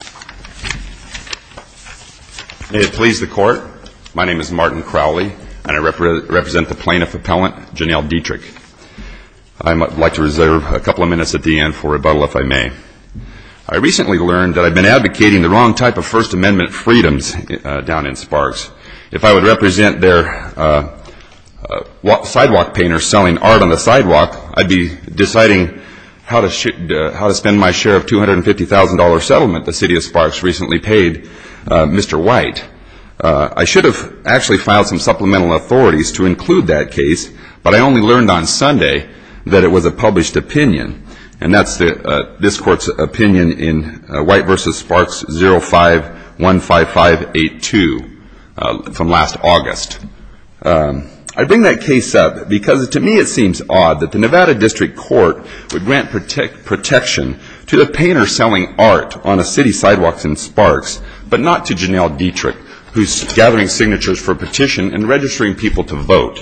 May it please the Court, my name is Martin Crowley and I represent the plaintiff appellant Janelle Dietrich. I would like to reserve a couple of minutes at the end for rebuttal if I may. I recently learned that I've been advocating the wrong type of First Amendment freedoms down in Sparks. If I would represent their sidewalk painters selling art on the city of Sparks recently paid Mr. White, I should have actually filed some supplemental authorities to include that case, but I only learned on Sunday that it was a published opinion and that's this Court's opinion in White v. Sparks 05-15582 from last August. I bring that case up because to me it seems odd that the Nevada District Court would grant protection to the painter selling art on the city sidewalks in Sparks, but not to Janelle Dietrich, who's gathering signatures for a petition and registering people to vote.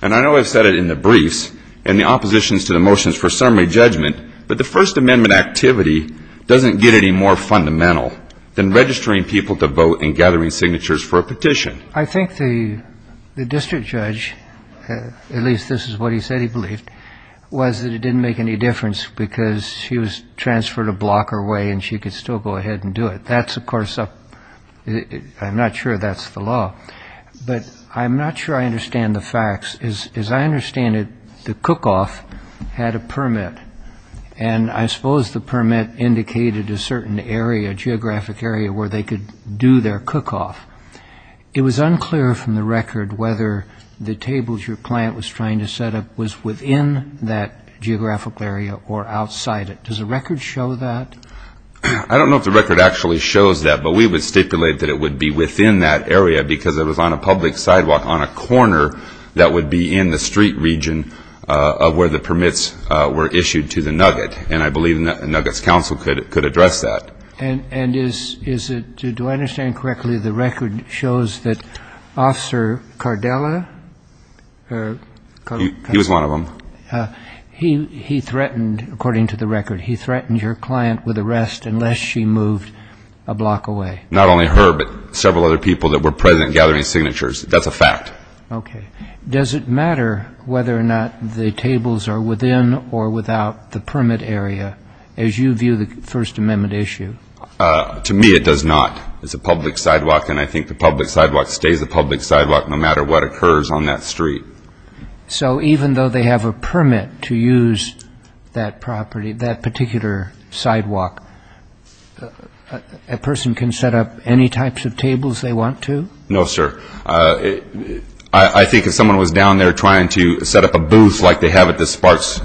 And I know I've said it in the briefs and the oppositions to the motions for summary judgment, but the First Amendment activity doesn't get any more fundamental than registering people to vote and gathering signatures for a petition. I think the district judge, at least this is what he said he believed, was that it didn't make any difference because she was transferred a block her way and she could still go ahead and do it. That's, of course, I'm not sure that's the law, but I'm not sure I understand the facts. As I understand it, the cook-off had a permit, and I suppose the permit indicated a certain area, a geographic area, where they could do their cook-off. It was unclear from the record whether the tables your client was trying to set up was within that geographical area or outside it. Does the record show that? I don't know if the record actually shows that, but we would stipulate that it would be within that area because it was on a public sidewalk on a corner that would be in the street region of where the permits were issued to the Nugget, and I believe Nugget's counsel could address that. And is it, do I understand correctly, the record shows that Officer Cardella, or... He was one of them. He threatened, according to the record, he threatened your client with arrest unless she moved a block away. Not only her, but several other people that were present gathering signatures. That's a fact. Okay. Does it matter whether or not the tables are within or without the permit area as you mentioned? It does not. To me, it does not. It's a public sidewalk, and I think the public sidewalk stays a public sidewalk no matter what occurs on that street. So even though they have a permit to use that property, that particular sidewalk, a person can set up any types of tables they want to? No, sir. I think if someone was down there trying to set up a booth like they have at the Sparks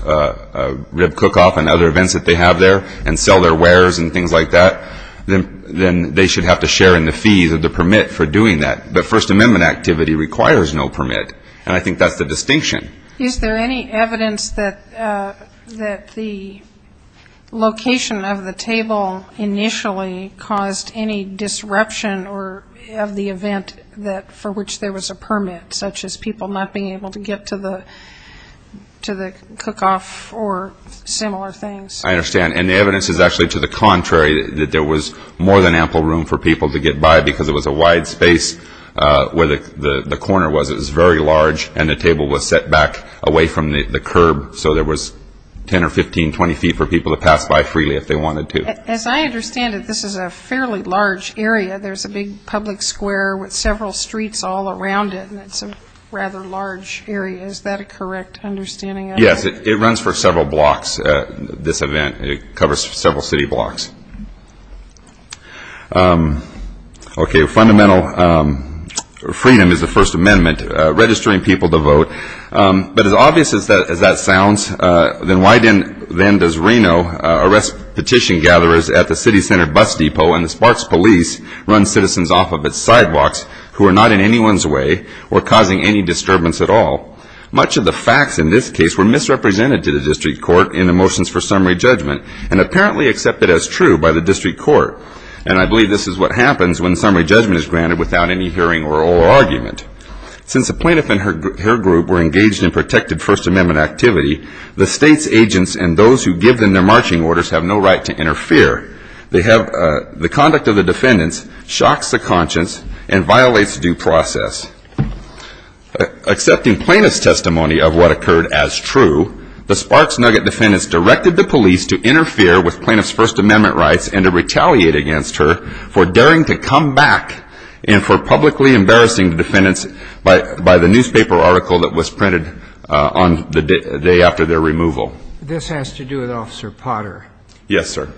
Rib Cook-Off and other events that they have there and sell their wares and things like that, then they should have to share in the fees or the permit for doing that. But First Amendment activity requires no permit, and I think that's the distinction. Is there any evidence that the location of the table initially caused any disruption or of the event that for which there was a permit, such as people not being able to get to the cook-off or similar things? I understand. And the evidence is actually to the contrary, that there was more than ample room for people to get by because it was a wide space where the corner was. It was very large, and the table was set back away from the curb, so there was 10 or 15, 20 feet for people to pass by freely if they wanted to. As I understand it, this is a fairly large area. There's a big public square with several streets all around it, and it's a rather large area. Is that a correct understanding? Yes. It runs for several blocks, this event. It covers several city blocks. Okay. Fundamental freedom is the First Amendment, registering people to vote. But as obvious as that sounds, then why then does Reno arrest petition gatherers at the city center bus depot, and the Sparks police run citizens off of its sidewalks who are not in anyone's way or causing any disturbance at all? Much of the facts in this case were misrepresented to the district court in the motions for summary judgment, and apparently accepted as true by the district court. And I believe this is what happens when summary judgment is granted without any hearing or argument. Since the plaintiff and her group were engaged in protected First Amendment activity, the state's agents and those who give them their marching orders have no right to interfere. They have the conduct of the defendants shocks the conscience and violates due process. Accepting plaintiff's testimony of what occurred as true, the Sparks Nugget defendants directed the police to interfere with plaintiff's First Amendment rights and to retaliate against her for daring to come back and for publicly embarrassing the defendants by the newspaper article that was printed on the day after their removal. This has to do with Officer Potter. Yes, sir.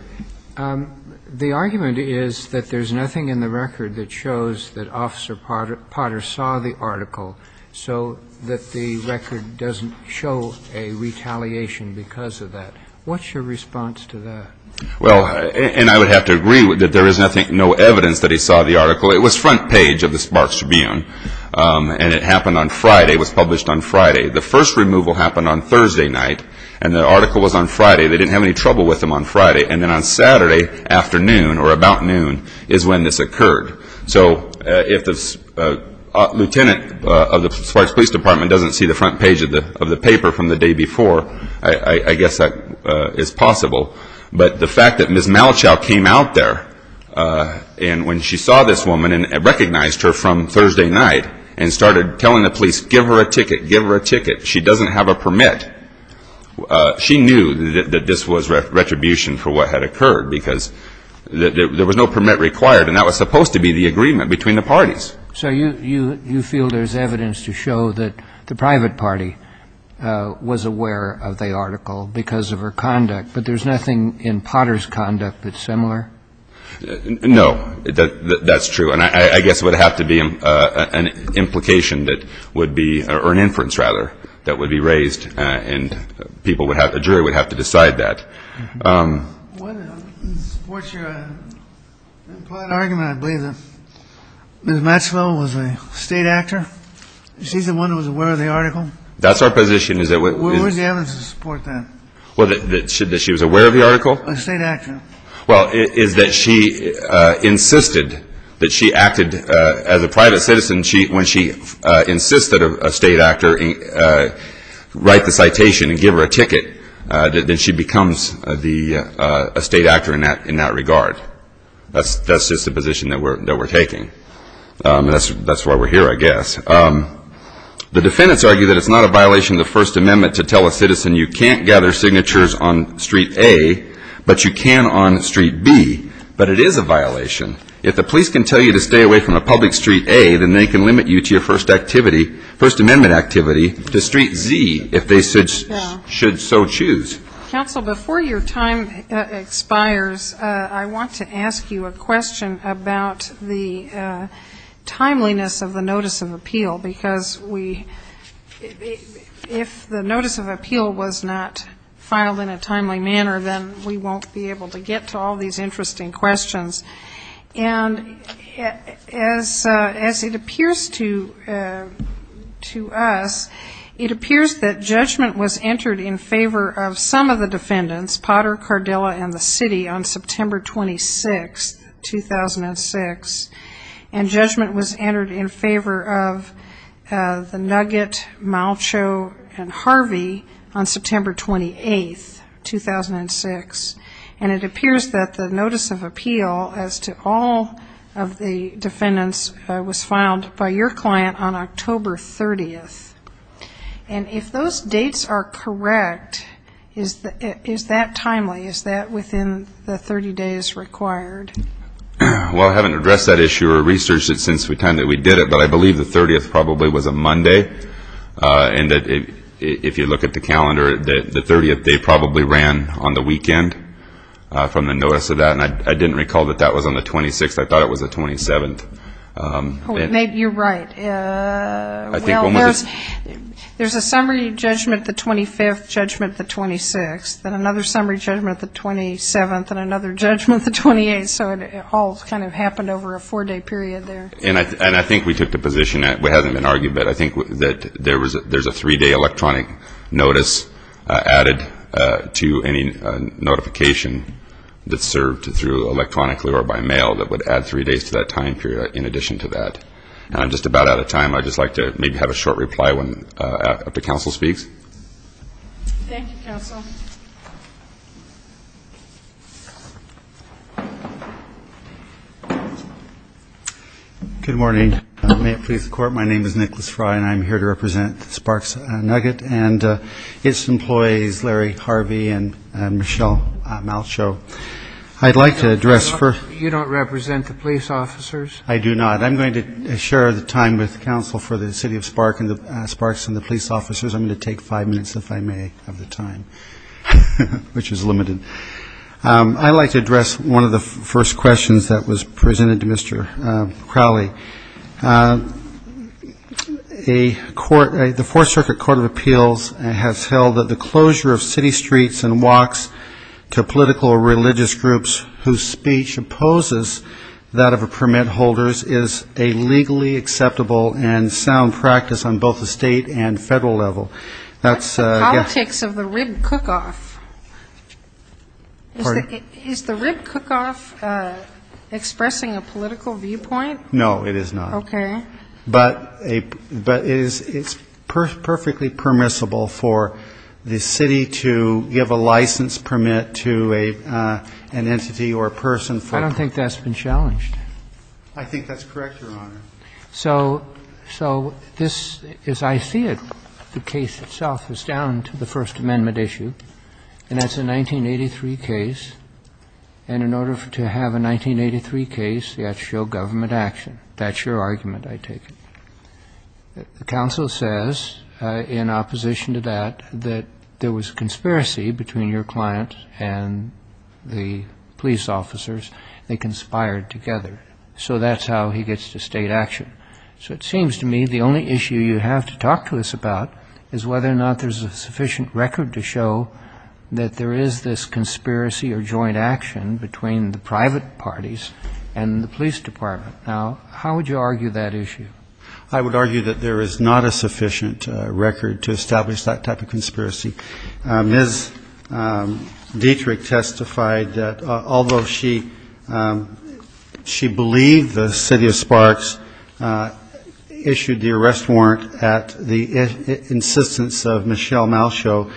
The argument is that there's nothing in the record that shows that Officer Potter saw the article so that the record doesn't show a retaliation because of that. What's your response to that? Well, and I would have to agree that there is no evidence that he saw the article. It was front page of the Sparks Tribune, and it happened on Friday. It was published on Friday. The first removal happened on Thursday night, and the article was on Friday. They didn't have any trouble with them on Friday, and then on Saturday afternoon or about noon is when this occurred. So if the lieutenant of the Sparks Police Department doesn't see the front page of the paper from the day before, I guess that is possible. But the fact that Ms. Malachow came out there and when she saw this woman and recognized her from Thursday night and started telling the police, give her a ticket, give her a that this was retribution for what had occurred because there was no permit required, and that was supposed to be the agreement between the parties. So you feel there's evidence to show that the private party was aware of the article because of her conduct, but there's nothing in Potter's conduct that's similar? No, that's true. And I guess it would have to be an implication that would be, or an inference, rather, that would be raised, and a jury would have to decide that. Well, it supports your implied argument, I believe, that Ms. Matchwell was a state actor. She's the one who was aware of the article. That's our position. Where's the evidence to support that? That she was aware of the article? A state actor. Well, is that she insisted that she acted as a private citizen when she insisted a state actor write the citation and give her a ticket? Then she becomes a state actor in that regard. That's just the position that we're taking. That's why we're here, I guess. The defendants argue that it's not a violation of the First Amendment to tell a citizen you can't gather signatures on Street A, but you can on Street B. But it is a violation. If the police can tell you to stay away from a public Street A, then they can limit you to your First Activity to Street Z, if they should so choose. Counsel, before your time expires, I want to ask you a question about the timeliness of the notice of appeal, because if the notice of appeal was not filed in a timely manner, then we won't be able to get to all these interesting questions. And as it appears to us, it appears that judgment was entered in favor of some of the defendants, Potter, Cardella, and the city on September 26, 2006, and judgment was entered in favor of the Nugget, Malcho, and Harvey on September 28, 2006. And it appears that the notice of appeal as to all of the defendants was filed by your client on October 30. And if those dates are correct, is that timely? Is that within the 30 days required? Well, I haven't addressed that issue or researched it since the time that we did it, but I believe the 30th probably was a Monday, and that if you look at the calendar, the 30th, they probably ran on the weekend from the notice of that, and I didn't recall that that was on the 26th. I thought it was the 27th. You're right. Well, there's a summary judgment, the 25th judgment, the 26th, and another summary judgment, the 27th, and another judgment, the 28th, so it all kind of happened over a four-day period there. And I think we took the position that hasn't been argued, but I think that there's a three-day electronic notice added to any notification that's served through electronically or by mail that would add three days to that time period in addition to that. And I'm just about out of time. I'd just like to maybe have a short reply after counsel speaks. Thank you, counsel. Good morning. May it please the Court. My name is Nicholas Fry, and I'm here to represent Sparks Nugget and its employees, Larry Harvey and Michelle Malchow. I'd like to address first. You don't represent the police officers? I do not. I'm going to share the time with counsel for the City of Sparks and the police officers. I'm going to take five minutes, if I may, of the time, which is limited. I'd like to address one of the first questions that was presented to Mr. Crowley. The Fourth Circuit Court of Appeals has held that the closure of city streets and walks to political or religious groups whose speech opposes that of permit holders is a legally acceptable and sound practice on both the state and federal level. What's the politics of the rib cook-off? Is the rib cook-off expressing a political viewpoint? No, it is not. Okay. But it's perfectly permissible for the city to give a license permit to an entity or a person. I don't think that's been challenged. I think that's correct, Your Honor. So this, as I see it, the case itself is down to the First Amendment issue, and that's a 1983 case. And in order to have a 1983 case, you have to show government action. That's your argument, I take it. The counsel says, in opposition to that, that there was a conspiracy between your client and the police officers. They conspired together. So that's how he gets to state action. So it seems to me the only issue you have to talk to us about is whether or not there's a sufficient record to show that there is this conspiracy or joint action between the private parties and the police department. Now, how would you argue that issue? I would argue that there is not a sufficient record to establish that type of conspiracy. Ms. Dietrich testified that although she believed the city of Sparks issued the arrest warrant at the insistence of Michelle Malchaud,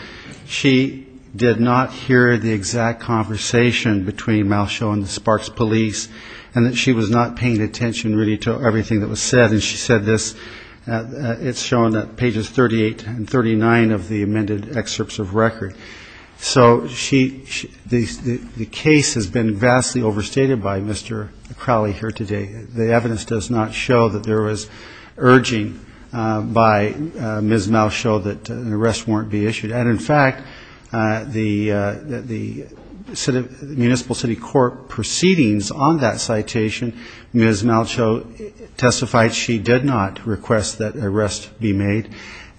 she did not hear the exact conversation between Malchaud and the Sparks police, and that she was not paying attention really to everything that was said. And she said this. It's shown at pages 38 and 39 of the amended excerpts of record. So the case has been vastly overstated by Mr. Crowley here today. The evidence does not show that there was urging by Ms. Malchaud that an arrest warrant be issued. And, in fact, the municipal city court proceedings on that citation, Ms. Malchaud testified she did not request that an arrest be made.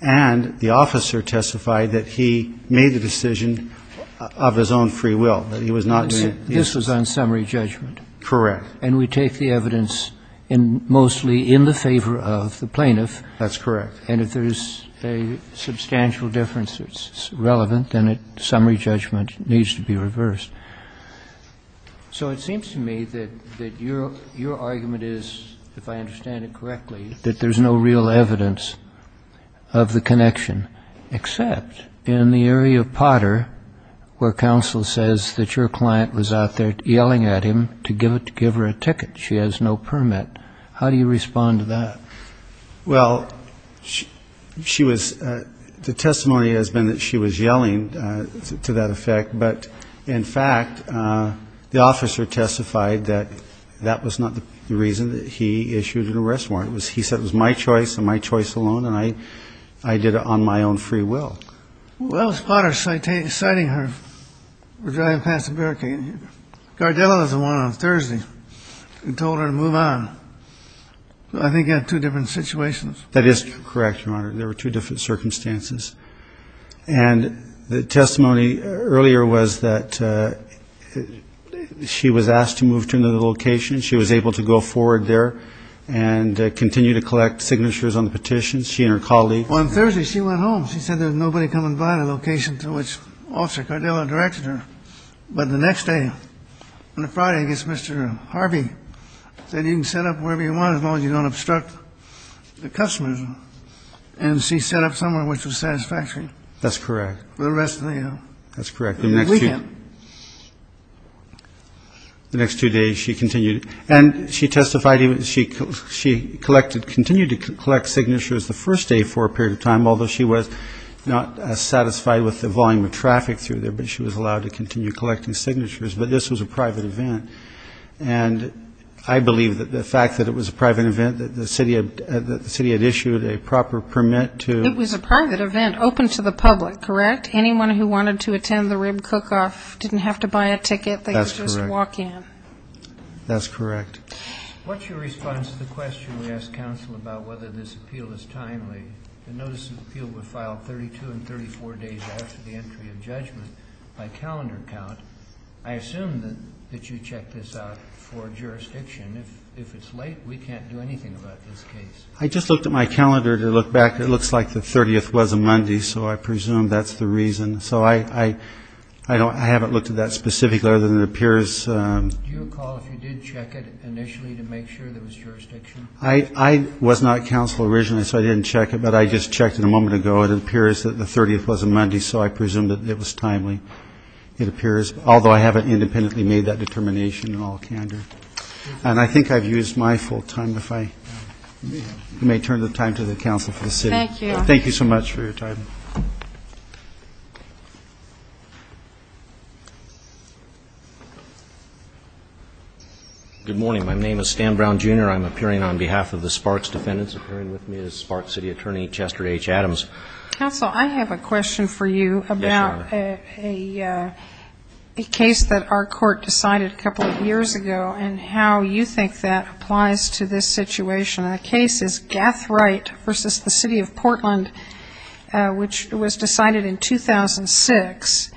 And the officer testified that he made the decision of his own free will, that he was not to be used. This was on summary judgment. Correct. And we take the evidence mostly in the favor of the plaintiff. That's correct. And if there is a substantial difference that's relevant, then summary judgment needs to be reversed. So it seems to me that your argument is, if I understand it correctly, that there's no real evidence of the connection, except in the area of Potter where counsel says that your client was out there yelling at him to give her a ticket. She has no permit. How do you respond to that? Well, the testimony has been that she was yelling to that effect. But, in fact, the officer testified that that was not the reason that he issued an arrest warrant. He said it was my choice and my choice alone, and I did it on my own free will. That was Potter citing her driving past the barricade. Gardella was the one on Thursday who told her to move on. I think you have two different situations. That is correct, Your Honor. There were two different circumstances. And the testimony earlier was that she was asked to move to another location. She was able to go forward there and continue to collect signatures on the petitions, she and her colleague. On Thursday she went home. She said there was nobody coming by the location to which Officer Gardella directed her. But the next day, on a Friday, I guess Mr. Harvey said, you can set up wherever you want as long as you don't obstruct the customers. And she set up somewhere which was satisfactory. That's correct. For the rest of the weekend. That's correct. The next two days she continued. And she testified she continued to collect signatures the first day for a period of time, although she was not satisfied with the volume of traffic through there. But she was allowed to continue collecting signatures. But this was a private event. And I believe that the fact that it was a private event, that the city had issued a proper permit to. It was a private event open to the public, correct? Anyone who wanted to attend the rib cook-off didn't have to buy a ticket. That's correct. They could just walk in. That's correct. What's your response to the question we asked counsel about whether this appeal is timely? The notice of appeal was filed 32 and 34 days after the entry of judgment by calendar count. I assume that you checked this out for jurisdiction. If it's late, we can't do anything about this case. I just looked at my calendar to look back. It looks like the 30th was a Monday, so I presume that's the reason. So I haven't looked at that specifically other than it appears. Do you recall if you did check it initially to make sure there was jurisdiction? I was not counsel originally, so I didn't check it, but I just checked it a moment ago. It appears that the 30th was a Monday, so I presume that it was timely. It appears, although I haven't independently made that determination in all candor. And I think I've used my full time. If I may turn the time to the counsel for the city. Thank you. Thank you so much for your time. Good morning. My name is Stan Brown, Jr. I'm appearing on behalf of the Sparks defendants. Appearing with me is Sparks City Attorney Chester H. Adams. Counsel, I have a question for you about a case that our court decided a couple of years ago and how you think that applies to this situation. The case is Gathright v. The City of Portland, which was decided in 2006.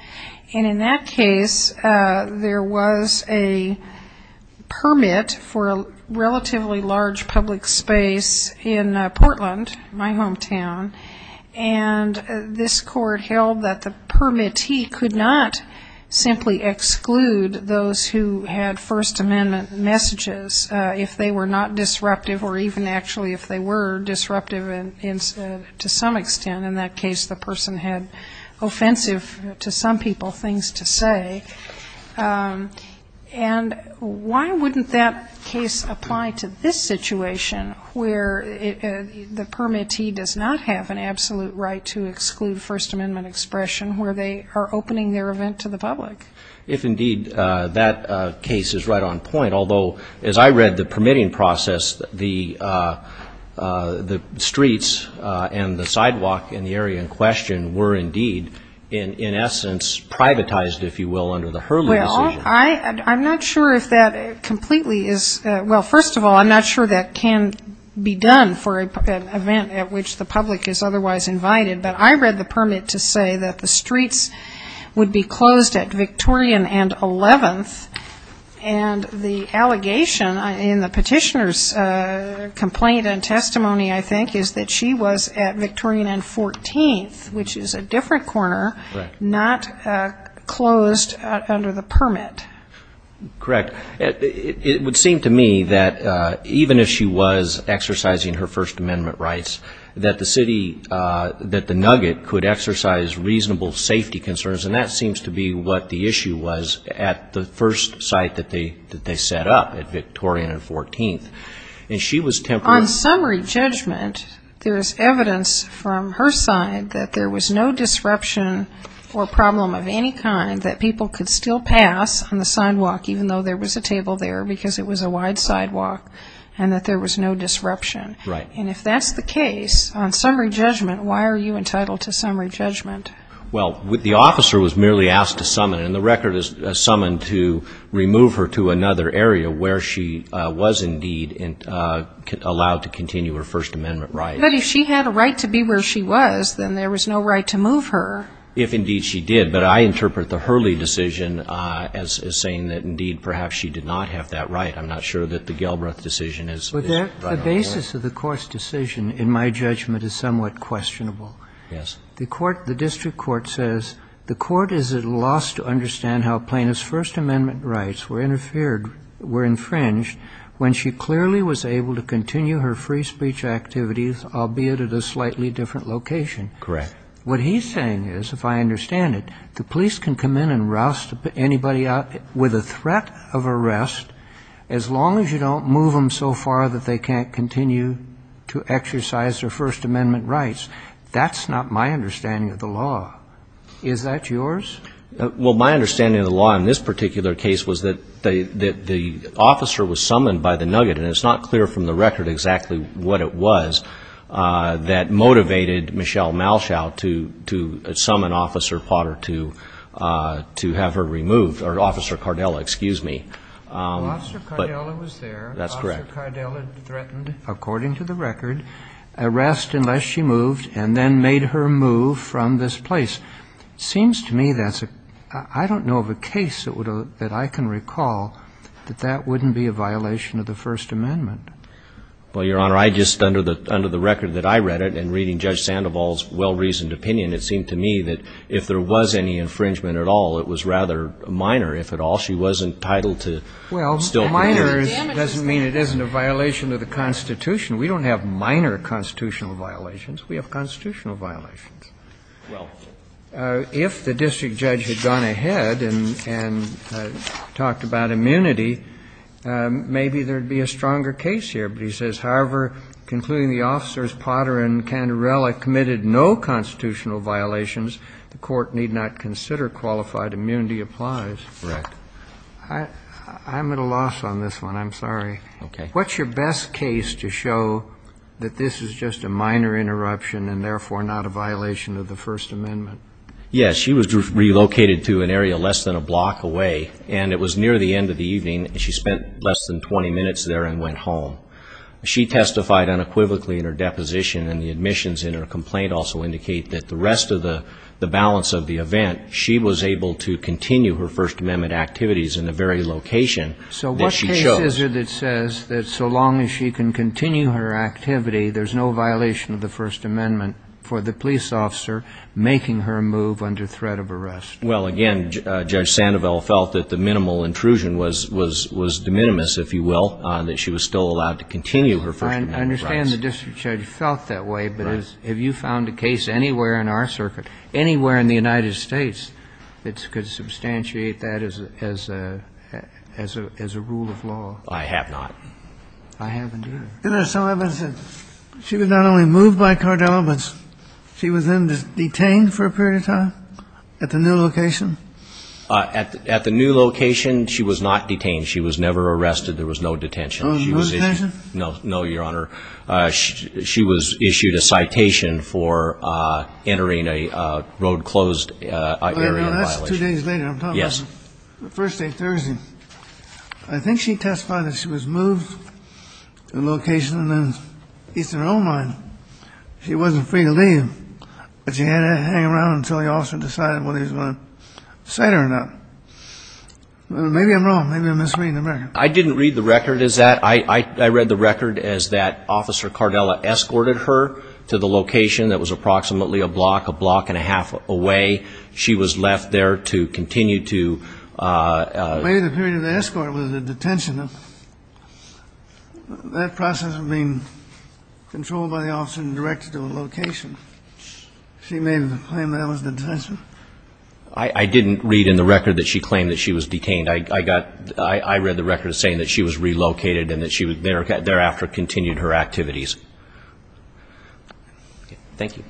And in that case, there was a permit for a relatively large public space in Portland, my hometown, and this court held that the permittee could not simply exclude those who had First Amendment messages if they were not disruptive or even actually if they were disruptive to some extent. And in that case, the person had offensive to some people things to say. And why wouldn't that case apply to this situation where the permittee does not have an absolute right to exclude First Amendment expression where they are opening their event to the public? If indeed that case is right on point, although as I read the permitting process, the streets and the sidewalk in the area in question were indeed, in essence, privatized, if you will, under the Hurley decision. Well, I'm not sure if that completely is, well, first of all, I'm not sure that can be done for an event at which the public is otherwise invited, but I read the permit to say that the streets would be closed at Victorian and 11th, and the allegation in the petitioner's complaint and testimony, I think, is that she was at Victorian and 14th, which is a different corner, not closed under the permit. Correct. It would seem to me that even if she was exercising her First Amendment rights, that the city, that the nugget could exercise reasonable safety concerns, and that seems to be what the issue was at the first site that they set up at Victorian and 14th. On summary judgment, there is evidence from her side that there was no disruption or problem of any kind that people could still pass on the sidewalk, even though there was a table there, because it was a wide sidewalk, and that there was no disruption. And if that's the case, on summary judgment, why are you entitled to summary judgment? The court was merely asked to summon, and the record is summoned to remove her to another area where she was indeed allowed to continue her First Amendment rights. But if she had a right to be where she was, then there was no right to move her. If indeed she did. But I interpret the Hurley decision as saying that, indeed, perhaps she did not have that right. I'm not sure that the Gelbreath decision is right on the court. But the basis of the court's decision, in my judgment, is somewhat questionable. Yes. The court, the district court, says the court is at a loss to understand how plaintiff's First Amendment rights were interfered, were infringed, when she clearly was able to continue her free speech activities, albeit at a slightly different location. Correct. What he's saying is, if I understand it, the police can come in and roust anybody out with a threat of arrest, as long as you don't move them so far that they can't continue to exercise their First Amendment rights. That's not my understanding of the law. Is that yours? Well, my understanding of the law in this particular case was that the officer was summoned by the Nugget, and it's not clear from the record exactly what it was that motivated Michelle Malshaw to summon Officer Potter to have her removed. Or Officer Cardella, excuse me. Officer Cardella was there. Officer Cardella threatened, according to the record, arrest unless she moved, and then made her move from this place. Seems to me that's a, I don't know of a case that I can recall that that wouldn't be a violation of the First Amendment. Well, Your Honor, I just, under the record that I read it, and reading Judge Sandoval's well-reasoned opinion, it seemed to me that if there was any infringement at all, it was rather minor, if at all. She wasn't entitled to still continue. Well, minor doesn't mean it isn't a violation of the Constitution. We don't have minor constitutional violations. We have constitutional violations. Well. If the district judge had gone ahead and talked about immunity, maybe there would be a stronger case here. But he says, however, concluding the officers, Potter and Canderella, committed no constitutional violations, the court need not consider qualified immunity applies. Correct. I'm at a loss on this one. I'm sorry. Okay. What's your best case to show that this is just a minor interruption and therefore not a violation of the First Amendment? Yes. She was relocated to an area less than a block away, and it was near the end of the evening. She spent less than 20 minutes there and went home. She testified unequivocally in her deposition, and the admissions in her complaint also indicate that the rest of the balance of the event, she was able to continue her First Amendment activities in the very location that she chose. What is it that says that so long as she can continue her activity, there's no violation of the First Amendment for the police officer making her move under threat of arrest? Well, again, Judge Sandoval felt that the minimal intrusion was de minimis, if you will, that she was still allowed to continue her First Amendment rights. I understand the district judge felt that way, but have you found a case anywhere in our circuit, anywhere in the United States, that could substantiate that as a rule of law? I have not. I haven't either. There are some evidence that she was not only moved by Cardello, but she was then detained for a period of time at the new location? At the new location, she was not detained. She was never arrested. There was no detention. No detention? No, Your Honor. She was issued a citation for entering a road-closed area of violation. That's two days later. I'm talking about the first day, Thursday. I think she testified that she was moved to a location in the Eastern Oil Mine. She wasn't free to leave, but she had to hang around until the officer decided whether he was going to set her or not. Maybe I'm wrong. Maybe I'm misreading the record. I didn't read the record as that. I read the record as that Officer Cardello escorted her to the location that was approximately a block, a block and a half away. She was left there to continue to ---- Maybe the period of escort was the detention. That process of being controlled by the officer and directed to a location. She made the claim that that was the detention. I didn't read in the record that she claimed that she was detained. I read the record as saying that she was relocated and that she thereafter continued her activities. Thank you.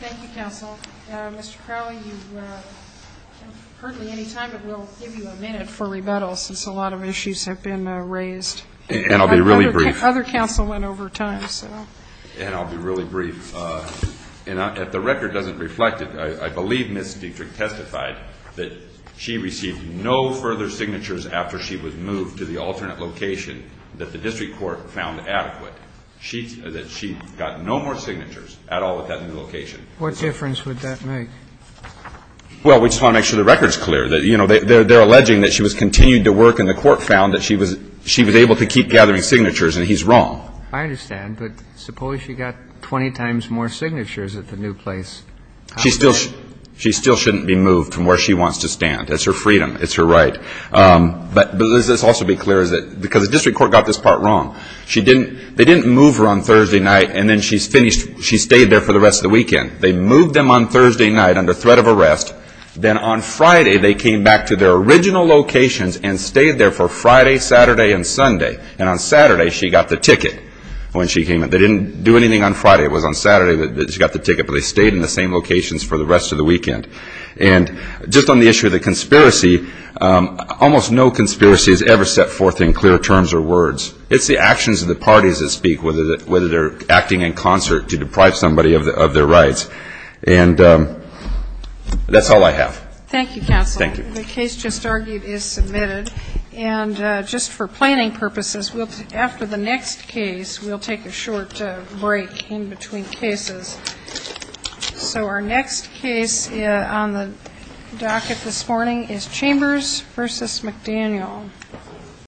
Thank you, counsel. Mr. Crowley, you have hardly any time, but we'll give you a minute for rebuttal since a lot of issues have been raised. And I'll be really brief. Other counsel went over time, so. And I'll be really brief. If the record doesn't reflect it, I believe Ms. Dietrich testified that she received no further signatures after she was moved to the alternate location that the district court found adequate, that she got no more signatures at all at that new location. What difference would that make? Well, we just want to make sure the record's clear. You know, they're alleging that she was continued to work and the court found that she was able to keep gathering signatures, and he's wrong. I understand. But suppose she got 20 times more signatures at the new place. She still shouldn't be moved from where she wants to stand. That's her freedom. It's her right. But let's also be clear, because the district court got this part wrong. They didn't move her on Thursday night, and then she stayed there for the rest of the weekend. They moved them on Thursday night under threat of arrest. Then on Friday they came back to their original locations and stayed there for Friday, Saturday, and Sunday. And on Saturday she got the ticket when she came in. They didn't do anything on Friday. It was on Saturday that she got the ticket, but they stayed in the same locations for the rest of the weekend. And just on the issue of the conspiracy, almost no conspiracy is ever set forth in clear terms or words. It's the actions of the parties that speak, whether they're acting in concert to deprive somebody of their rights. And that's all I have. Thank you, counsel. Thank you. The case just argued is submitted. And just for planning purposes, after the next case we'll take a short break in between cases. So our next case on the docket this morning is Chambers v. McDaniel.